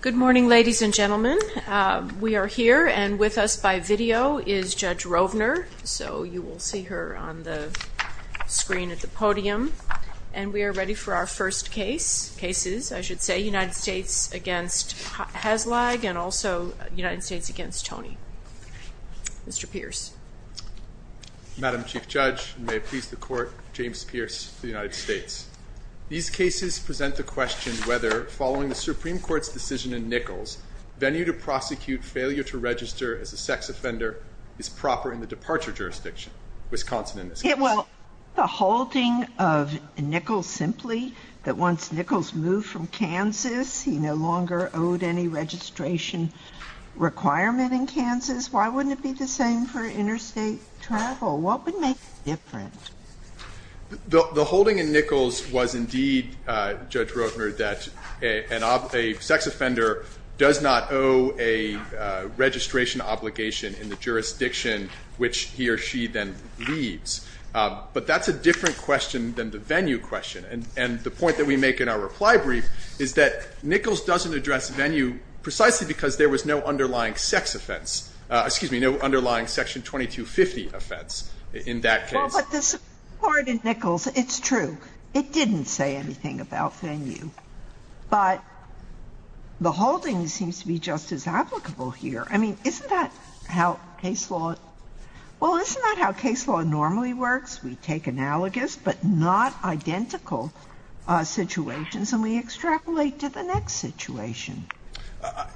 Good morning ladies and gentlemen. We are here and with us by video is Judge Rovner. So you will see her on the screen at the podium. And we are ready for our first case, cases I should say, United States v. Haslage and also United States v. Tony. Mr. Pierce. Madam Chief Judge, and may it please the Court, James Pierce for the United States. These Supreme Court's decision in Nichols, venue to prosecute failure to register as a sex offender, is proper in the departure jurisdiction, Wisconsin in this case. Well, the holding of Nichols simply, that once Nichols moved from Kansas, he no longer owed any registration requirement in Kansas, why wouldn't it be the same for interstate travel? What would make it different? The holding in Nichols was indeed, Judge Rovner, that a sex offender does not owe a registration obligation in the jurisdiction which he or she then leads. But that's a different question than the venue question. And the point that we make in our reply brief is that Nichols doesn't address venue precisely because there was no underlying sex offense, excuse me, no underlying section 2250 offense in that case. But the Supreme Court in Nichols, it's true, it didn't say anything about venue. But the holding seems to be just as applicable here. I mean, isn't that how case law, well, isn't that how case law normally works? We take analogous but not identical situations and we extrapolate to the next situation.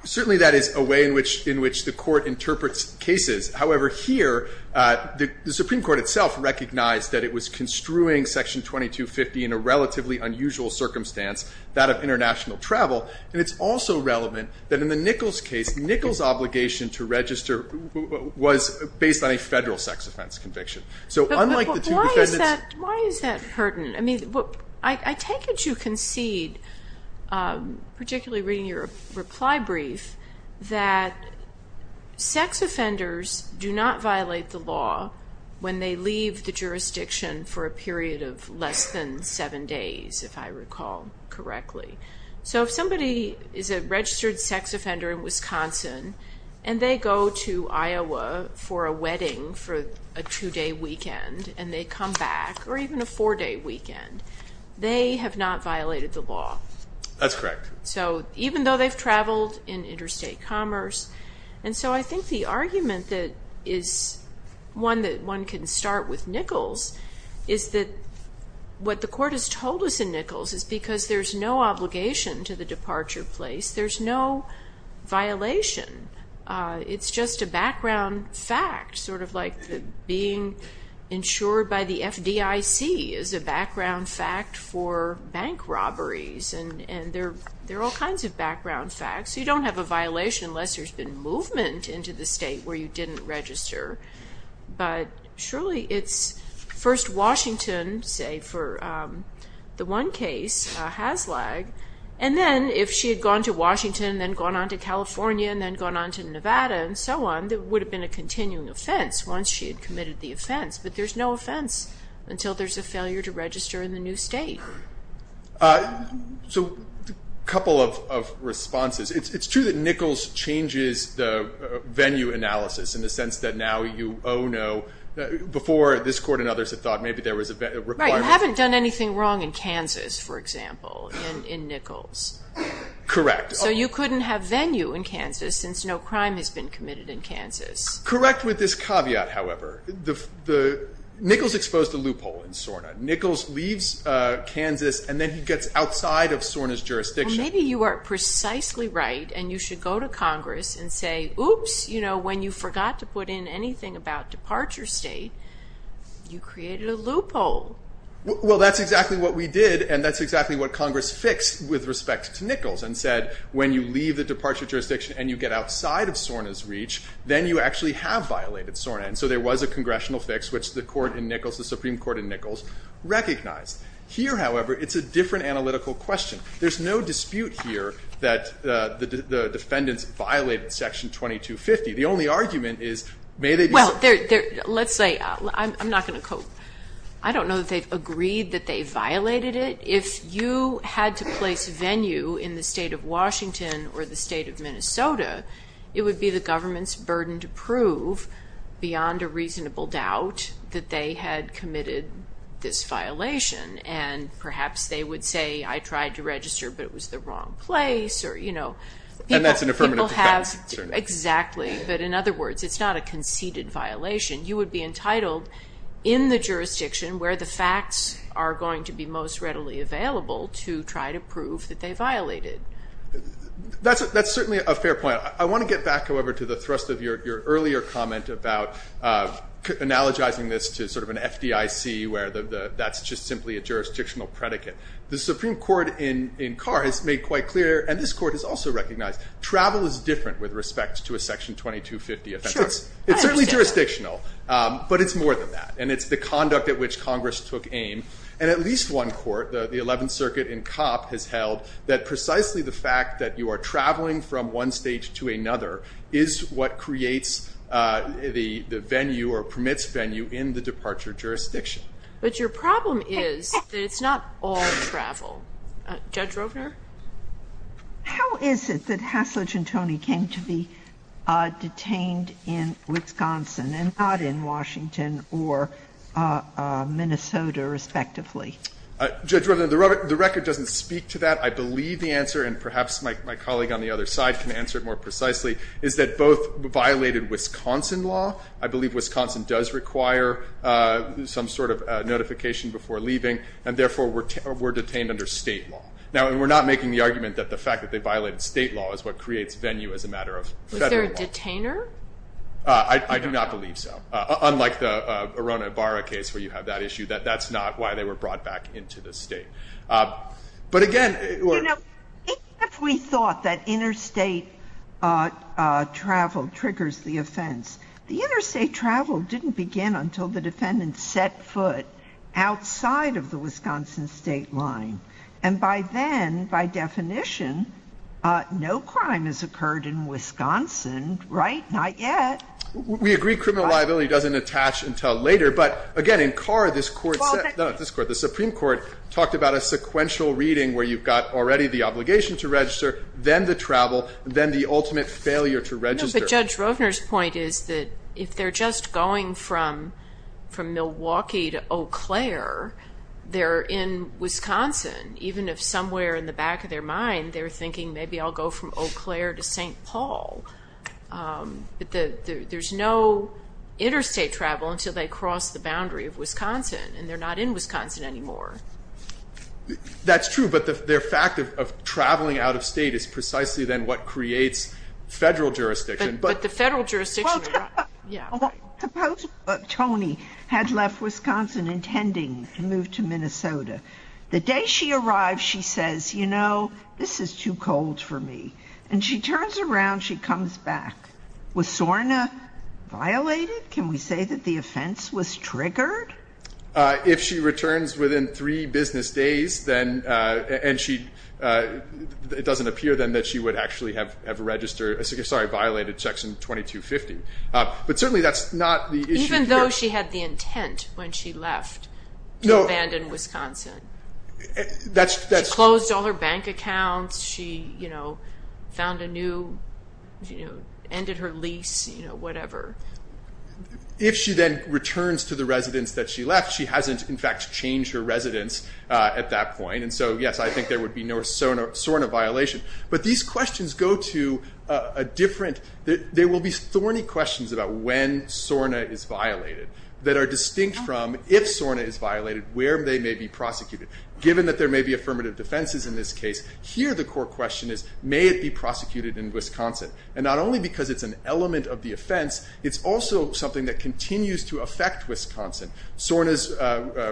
Certainly that is a way in which the Court interprets cases. However, here, the Supreme Court itself recognized that it was construing section 2250 in a relatively unusual circumstance, that of international travel. And it's also relevant that in the Nichols case, Nichols' obligation to register was based on a federal sex offense conviction. So unlike the two defendants- But why is that, why is that pertinent? I mean, I take it you concede, particularly reading your reply brief, that sex offenders do not violate the law when they leave the jurisdiction for a period of less than seven days, if I recall correctly. So if somebody is a registered sex offender in Wisconsin and they go to Iowa for a wedding for a two-day weekend and they come back, or even a four-day weekend, they have not violated the law. That's correct. So even though they've traveled in interstate commerce. And so I think the argument that is one that one can start with Nichols is that what the Court has told us in Nichols is because there's no obligation to the departure place, there's no violation. It's just a background fact, sort of like being insured by the FDIC is a background fact for bank robberies. And there are all kinds of background facts. You don't have a violation unless there's been movement into the state where you didn't register. But surely it's first Washington, say for the one case, Haslag, and then if she had gone to Washington and then gone on to California and then gone on to Nevada and so on, there would have been a continuing offense once she had committed the offense. But there's no offense until there's a failure to register in the new state. So a couple of responses. It's true that Nichols changes the venue analysis in the sense that now you, oh no, before this Court and others had thought maybe there was a requirement. Right. You haven't done anything wrong in Kansas, for example, in Nichols. Correct. So you couldn't have venue in Kansas since no crime has been committed in Kansas. Correct with this caveat, however. Nichols exposed a loophole in SORNA. Nichols leaves Kansas and then he gets outside of SORNA's jurisdiction. Maybe you are precisely right and you should go to Congress and say, oops, when you forgot to put in anything about departure state, you created a loophole. Well that's exactly what we did and that's exactly what Congress fixed with respect to when you leave the departure jurisdiction and you get outside of SORNA's reach, then you actually have violated SORNA. And so there was a congressional fix, which the Supreme Court in Nichols recognized. Here, however, it's a different analytical question. There's no dispute here that the defendants violated Section 2250. The only argument is, may they be... Well, let's say, I'm not going to quote, I don't know that they've agreed that they violated it. If you had to place venue in the state of Washington or the state of Minnesota, it would be the government's burden to prove, beyond a reasonable doubt, that they had committed this violation. And perhaps they would say, I tried to register but it was the wrong place or, you know... And that's an affirmative defense. Exactly. But in other words, it's not a conceded violation. You would be entitled, in the jurisdiction where the facts are going to be most readily available, to try to prove that they violated. That's certainly a fair point. I want to get back, however, to the thrust of your earlier comment about analogizing this to sort of an FDIC where that's just simply a jurisdictional predicate. The Supreme Court in Carr has made quite clear, and this Court has also recognized, travel is different with respect to a Section 2250 offense. It's certainly jurisdictional, but it's more than that. And it's the conduct at which Congress took aim. And at least one court, the Eleventh Circuit in Copp, has held that precisely the fact that you are traveling from one state to another is what creates the venue or permits venue in the departure jurisdiction. But your problem is that it's not all travel. Judge Rovner? How is it that Hasledge and Toney came to be detained in Wisconsin and not in Washington or Minnesota, respectively? Judge Rovner, the record doesn't speak to that. I believe the answer, and perhaps my colleague on the other side can answer it more precisely, is that both violated Wisconsin law. I believe Wisconsin does require some sort of notification before leaving, and therefore were detained under State law. Now, we're not making the argument that the fact that they violated State law is what creates venue as a matter of Federal law. Was there a detainer? I do not believe so. Unlike the Arrona-Ibarra case where you have that issue, that's not why they were brought back into the State. But again, we're You know, if we thought that interstate travel triggers the offense, the interstate travel didn't begin until the defendant set foot outside of the Wisconsin State line. And by then, by definition, no crime has occurred in Wisconsin, right? Not yet. We agree criminal liability doesn't attach until later. But again, in Carr, this Supreme Court talked about a sequential reading where you've got already the obligation to register, then the travel, then the ultimate failure to register. But Judge Rovner's point is that if they're just going from Milwaukee to Eau Claire, they're in Wisconsin. Even if somewhere in the back of their mind, they're thinking, maybe I'll go from Eau Claire to St. Paul. But there's no interstate travel until they cross the boundary of Wisconsin, and they're not in Wisconsin anymore. That's true, but their fact of traveling out of State is precisely then what creates Federal jurisdiction. But the Federal jurisdiction, yeah. Suppose Tony had left Wisconsin intending to move to Minnesota. The day she arrives, she says, you know, this is too cold for me. And she turns around, she comes back. Was SORNA violated? Can we say that the offense was triggered? If she returns within three business days, then, and she, it doesn't appear then that she would actually have violated Section 2250. But certainly that's not the issue here. Even though she had the intent when she left to abandon Wisconsin. She closed all her bank accounts. She found a new, ended her lease, whatever. If she then returns to the residence that she left, she hasn't in fact changed her residence at that point. And so, yes, I think there would be no SORNA violation. But these questions go to a different, there will be thorny questions about when SORNA is violated that are distinct from if SORNA is violated, where they may be prosecuted. Given that there may be affirmative defenses in this case, here the core question is, may it be prosecuted in Wisconsin? And not only because it's an element of the offense, it's also something that continues to affect Wisconsin. SORNA's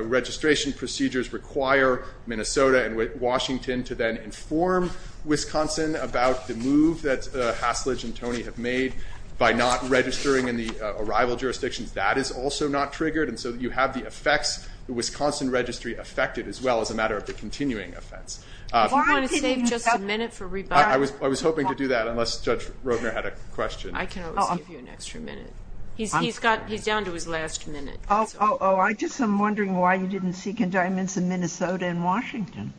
registration procedures require Minnesota and Washington to then inform Wisconsin about the move that Haslidge and Tony have made by not registering in the arrival jurisdictions. That is also not triggered. And so you have the effects, the Wisconsin registry affected as well as a matter of the continuing offense. If you want to save just a minute for rebuff. I was hoping to do that unless Judge Roedner had a question. I can always give you an extra minute. He's down to his last minute. Oh, I'm just wondering why you didn't seek indictments in Minnesota and Washington.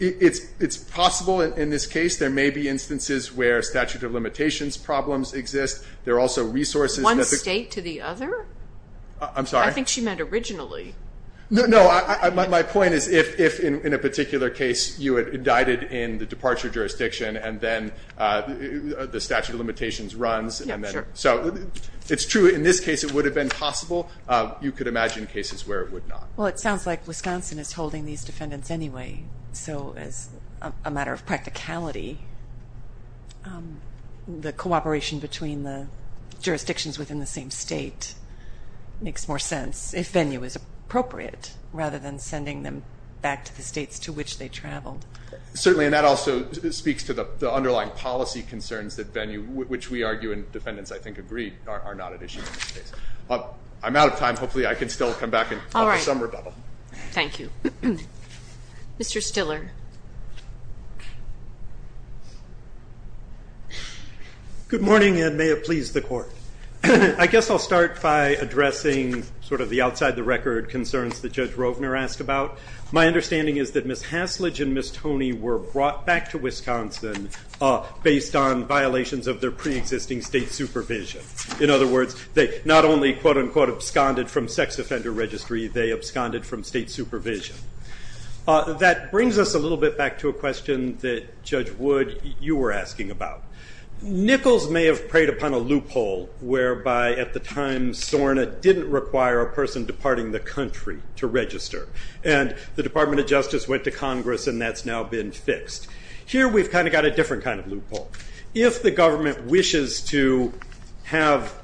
It's possible in this case there may be instances where statute of limitations problems exist. There are also resources. One state to the other? I'm sorry? I think she meant originally. No, no, my point is if in a particular case you had indicted in the departure jurisdiction and then the statute of limitations runs. So it's true in this case it would have been possible. You could imagine cases where it would not. Well, it sounds like Wisconsin is holding these defendants anyway. So as a matter of practicality, the cooperation between the jurisdictions within the same state makes more sense if venue is appropriate rather than sending them back to the states to which they traveled. Certainly, and that also speaks to the underlying policy concerns that venue, which we argue and defendants, I think, agree are not an issue in this case. I'm out of time. Hopefully I can still come back in the summer. Thank you. Mr. Stiller. Good morning and may it please the Court. I guess I'll start by addressing sort of the outside the record concerns that Judge Roedner asked about. My understanding is that Ms. Tony were brought back to Wisconsin based on violations of their preexisting state supervision. In other words, they not only, quote unquote, absconded from sex offender registry, they absconded from state supervision. That brings us a little bit back to a question that Judge Wood, you were asking about. Nichols may have preyed upon a loophole whereby at the time SORNA didn't require a person departing the country to register. And the Department of Justice went to Congress and that's now been fixed. Here we've kind of got a different kind of loophole. If the government wishes to have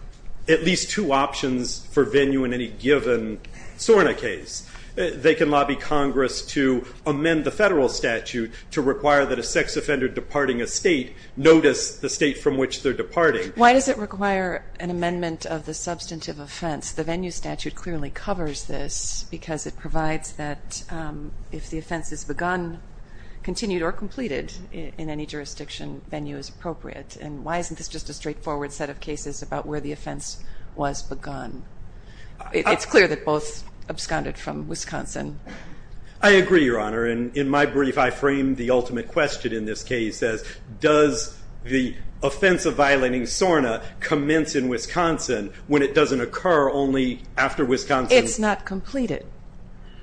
at least two options for venue in any given SORNA case, they can lobby Congress to amend the federal statute to require that a sex offender departing a state notice the state from which they're departing. Why does it require an amendment of the substantive offense? The venue statute clearly covers this because it provides that if the offense is begun, continued, or completed in any jurisdiction, venue is appropriate. And why isn't this just a straightforward set of cases about where the offense was begun? It's clear that both absconded from Wisconsin. I agree, Your Honor. And in my brief, I framed the ultimate question in this case as does the offense of violating SORNA commence in Wisconsin when it doesn't occur only after Wisconsin? It's not completed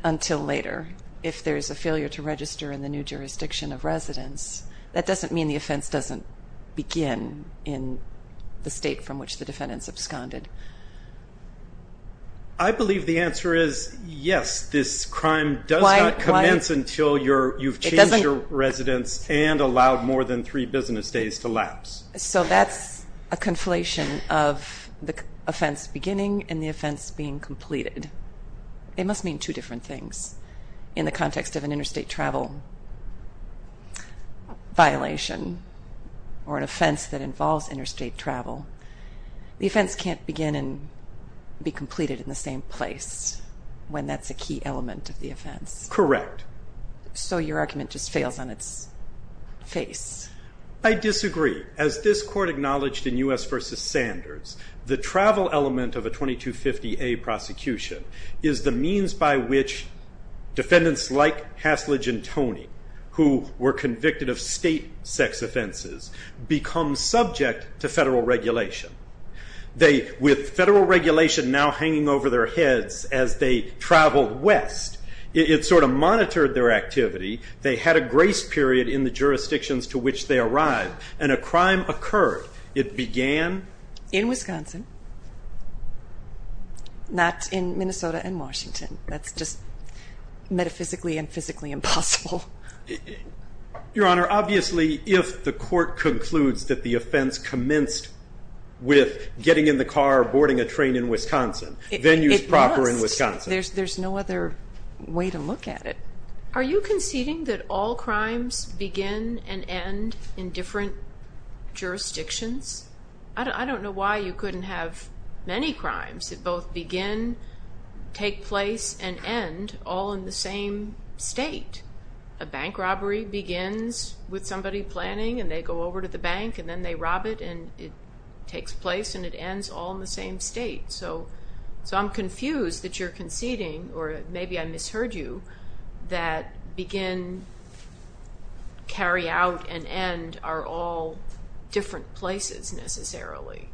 until later if there's a failure to register in the new jurisdiction of residence. That doesn't mean the offense doesn't begin in the state from which the defendants absconded. I believe the answer is yes, this crime does not commence until you've changed your residence and allowed more than three business days to lapse. So that's a conflation of the offense beginning and the offense being completed. It must mean two different things in the context of an interstate travel violation or an offense that involves interstate travel. The offense can't begin and be completed in the same place when that's a key element of the offense. Correct. So your argument just fails on its face. I disagree. As this court acknowledged in U.S. v. Sanders, the travel element of a 2250A prosecution is the means by which defendants like Hasledge and Toney, who were convicted of state sex offenses, become subject to federal regulation. With federal regulation now hanging over their heads as they traveled west, it sort of monitored their activity. They had a grace period in the jurisdictions to which they arrived, and a crime occurred. It began... In Wisconsin. Not in Minnesota and Washington. That's just metaphysically and physically impossible. Your Honor, obviously if the court concludes that the offense commenced with getting in the car or boarding a train in Wisconsin, venues proper in Wisconsin... It must. There's no other way to look at it. Are you conceding that all crimes begin and end in different jurisdictions? I don't know why you couldn't have many crimes that both begin, take place, and end all in the same state. A bank robbery begins with somebody planning, and they go over to the bank, and then they rob it, and it takes place, and it ends all in the same state. So I'm confused that you're conceding, or maybe I misheard you, that begin, carry out, and end are all different places necessarily.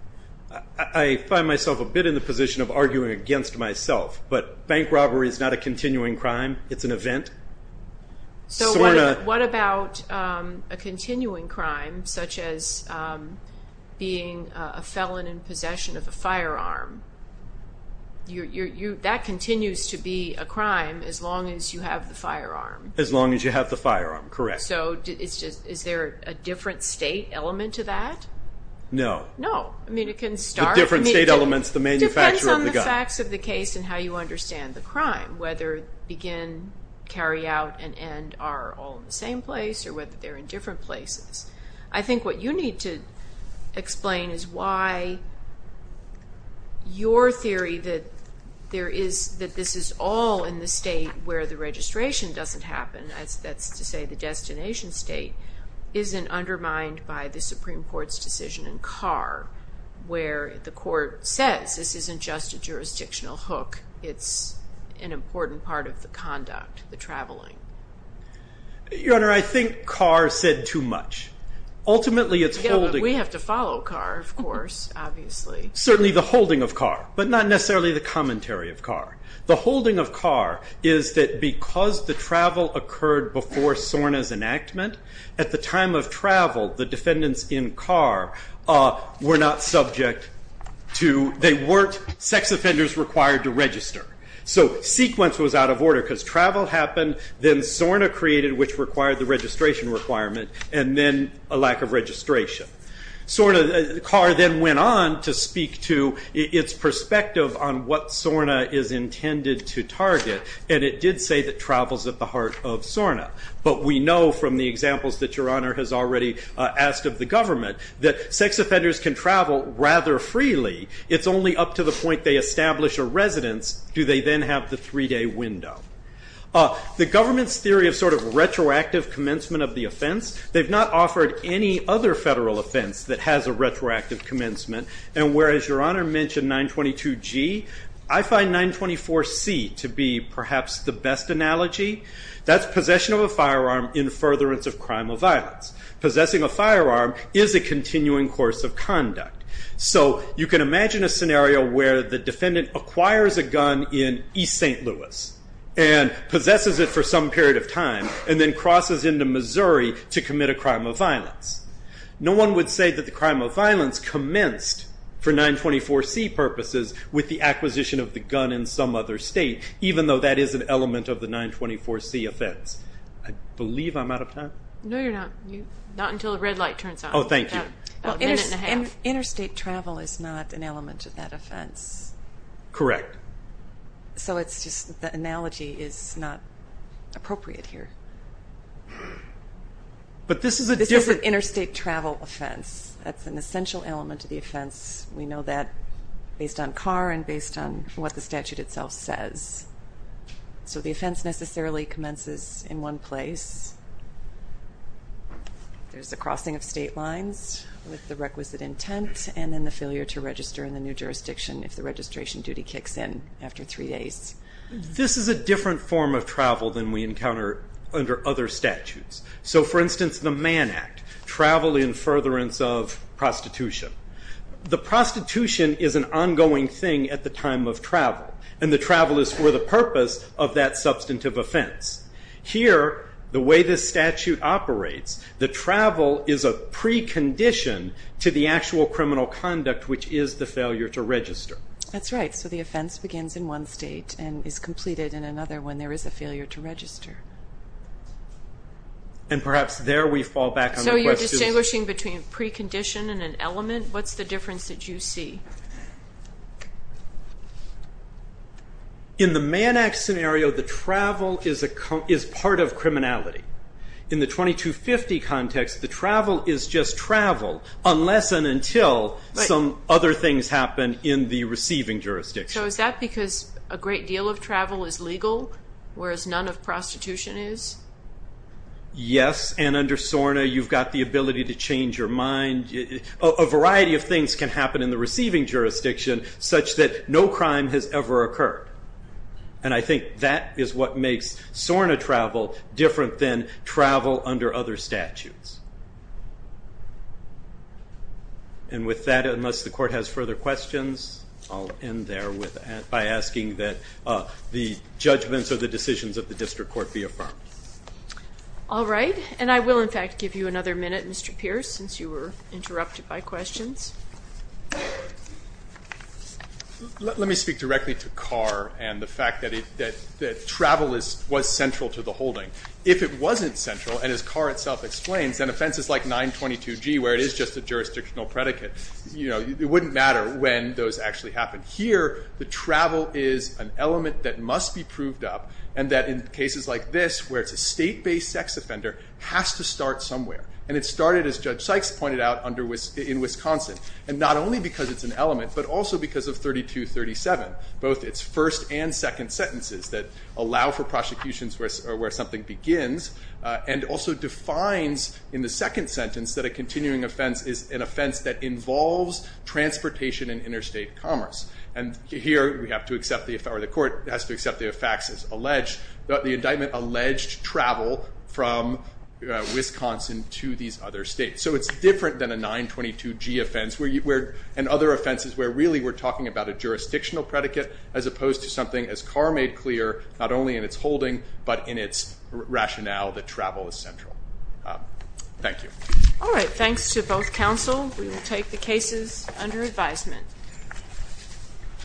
I find myself a bit in the position of arguing against myself, but bank robbery is not a continuing crime. It's an event. What about a continuing crime, such as being a felon in possession of a firearm? You're that continues to be a crime as long as you have the firearm. As long as you have the firearm, correct. So is there a different state element to that? No. No. I mean it can start... The different state elements, the manufacturer of the gun. It depends on the facts of the case and how you understand the crime, whether begin, carry out, and end are all in the same place, or whether they're in different places. I think what you need to explain is why your theory that this is all in the state where the registration doesn't happen, that's to say the destination state, isn't undermined by the Supreme Court's decision in Carr, where the court says this isn't just a jurisdictional hook, it's an incident. Your Honor, I think Carr said too much. Ultimately it's holding... We have to follow Carr, of course, obviously. Certainly the holding of Carr, but not necessarily the commentary of Carr. The holding of Carr is that because the travel occurred before Sorna's enactment, at the time of travel, the defendants in Carr were not subject to... They weren't sex offenders required to register. So sequence was out of order, because travel happened, then Sorna created, which required the registration requirement, and then a lack of registration. Carr then went on to speak to its perspective on what Sorna is intended to target, and it did say that travel's at the heart of Sorna, but we know from the examples that your Honor has already asked of the government that sex offenders can travel rather freely. It's only up to the point they establish a residence do they then have the three-day window. The government's theory of sort of retroactive commencement of the offense, they've not offered any other federal offense that has a retroactive commencement, and whereas your Honor mentioned 922G, I find 924C to be perhaps the best analogy. That's possession of a firearm in furtherance of crime or violence. Possessing a firearm is a continuing course of conduct. So you can imagine a scenario where the defendant acquires a gun in East St. Louis, and possesses it for some period of time, and then crosses into Missouri to commit a crime of violence. No one would say that the crime of violence commenced for 924C purposes with the acquisition of the gun in some other state, even though that is an element of the 924C offense. I believe I'm out of time? No, you're not. Not until the red light turns on. Oh, thank you. About a minute and a half. Interstate travel is not an element of that offense. Correct. So it's just the analogy is not appropriate here. But this is a different... This is an interstate travel offense. That's an essential element of the offense. We know that based on Carr and based on what the statute itself says. So the offense necessarily commences in one place. There's a crossing of state lines with the requisite intent, and then the failure to register in the new jurisdiction if the registration duty kicks in after three days. This is a different form of travel than we encounter under other statutes. So for instance, the Mann Act, travel in furtherance of prostitution. The prostitution is an ongoing thing at the time. Here, the way this statute operates, the travel is a precondition to the actual criminal conduct, which is the failure to register. That's right. So the offense begins in one state and is completed in another when there is a failure to register. And perhaps there we fall back on the question... So you're distinguishing between a precondition and an element? What's the difference that you see? In the Mann Act scenario, the travel is part of criminality. In the 2250 context, the travel is just travel unless and until some other things happen in the receiving jurisdiction. So is that because a great deal of travel is legal, whereas none of prostitution is? Yes, and under SORNA you've got the ability to change your mind. A variety of things can happen in the receiving jurisdiction such that no crime has ever occurred. And I think that is what makes SORNA travel different than travel under other statutes. And with that, unless the court has further questions, I'll end there by asking that the judgments of the decisions of the district court be affirmed. All right, and I will in fact give you another minute, Mr. Pierce, since you were interrupted by questions. Let me speak directly to Carr and the fact that travel was central to the holding. If it wasn't central, and as Carr itself explains, an offense is like 922G where it is just a jurisdictional predicate. It wouldn't matter when those actually happened. Here, the travel is an element that must be proved up and that in cases like this where it's a state-based sex offender has to start somewhere. And it started, as Judge Sykes pointed out, in Wisconsin. And not only because it's an element, but also because of 3237, both its first and second sentences that allow for prosecutions where something begins, and also defines in the second sentence that a continuing offense is an offense that involves transportation and interstate commerce. And here, we have to accept, or the court has to accept the facts as alleged, that the indictment alleged travel from Wisconsin to these other states. So it's different than a 922G offense and other offenses where really we're talking about a jurisdictional predicate as opposed to something, as Carr made clear, not only in its holding, but in its rationale that travel is central. Thank you. All right, thanks to both counsel. We will take the cases under advisement.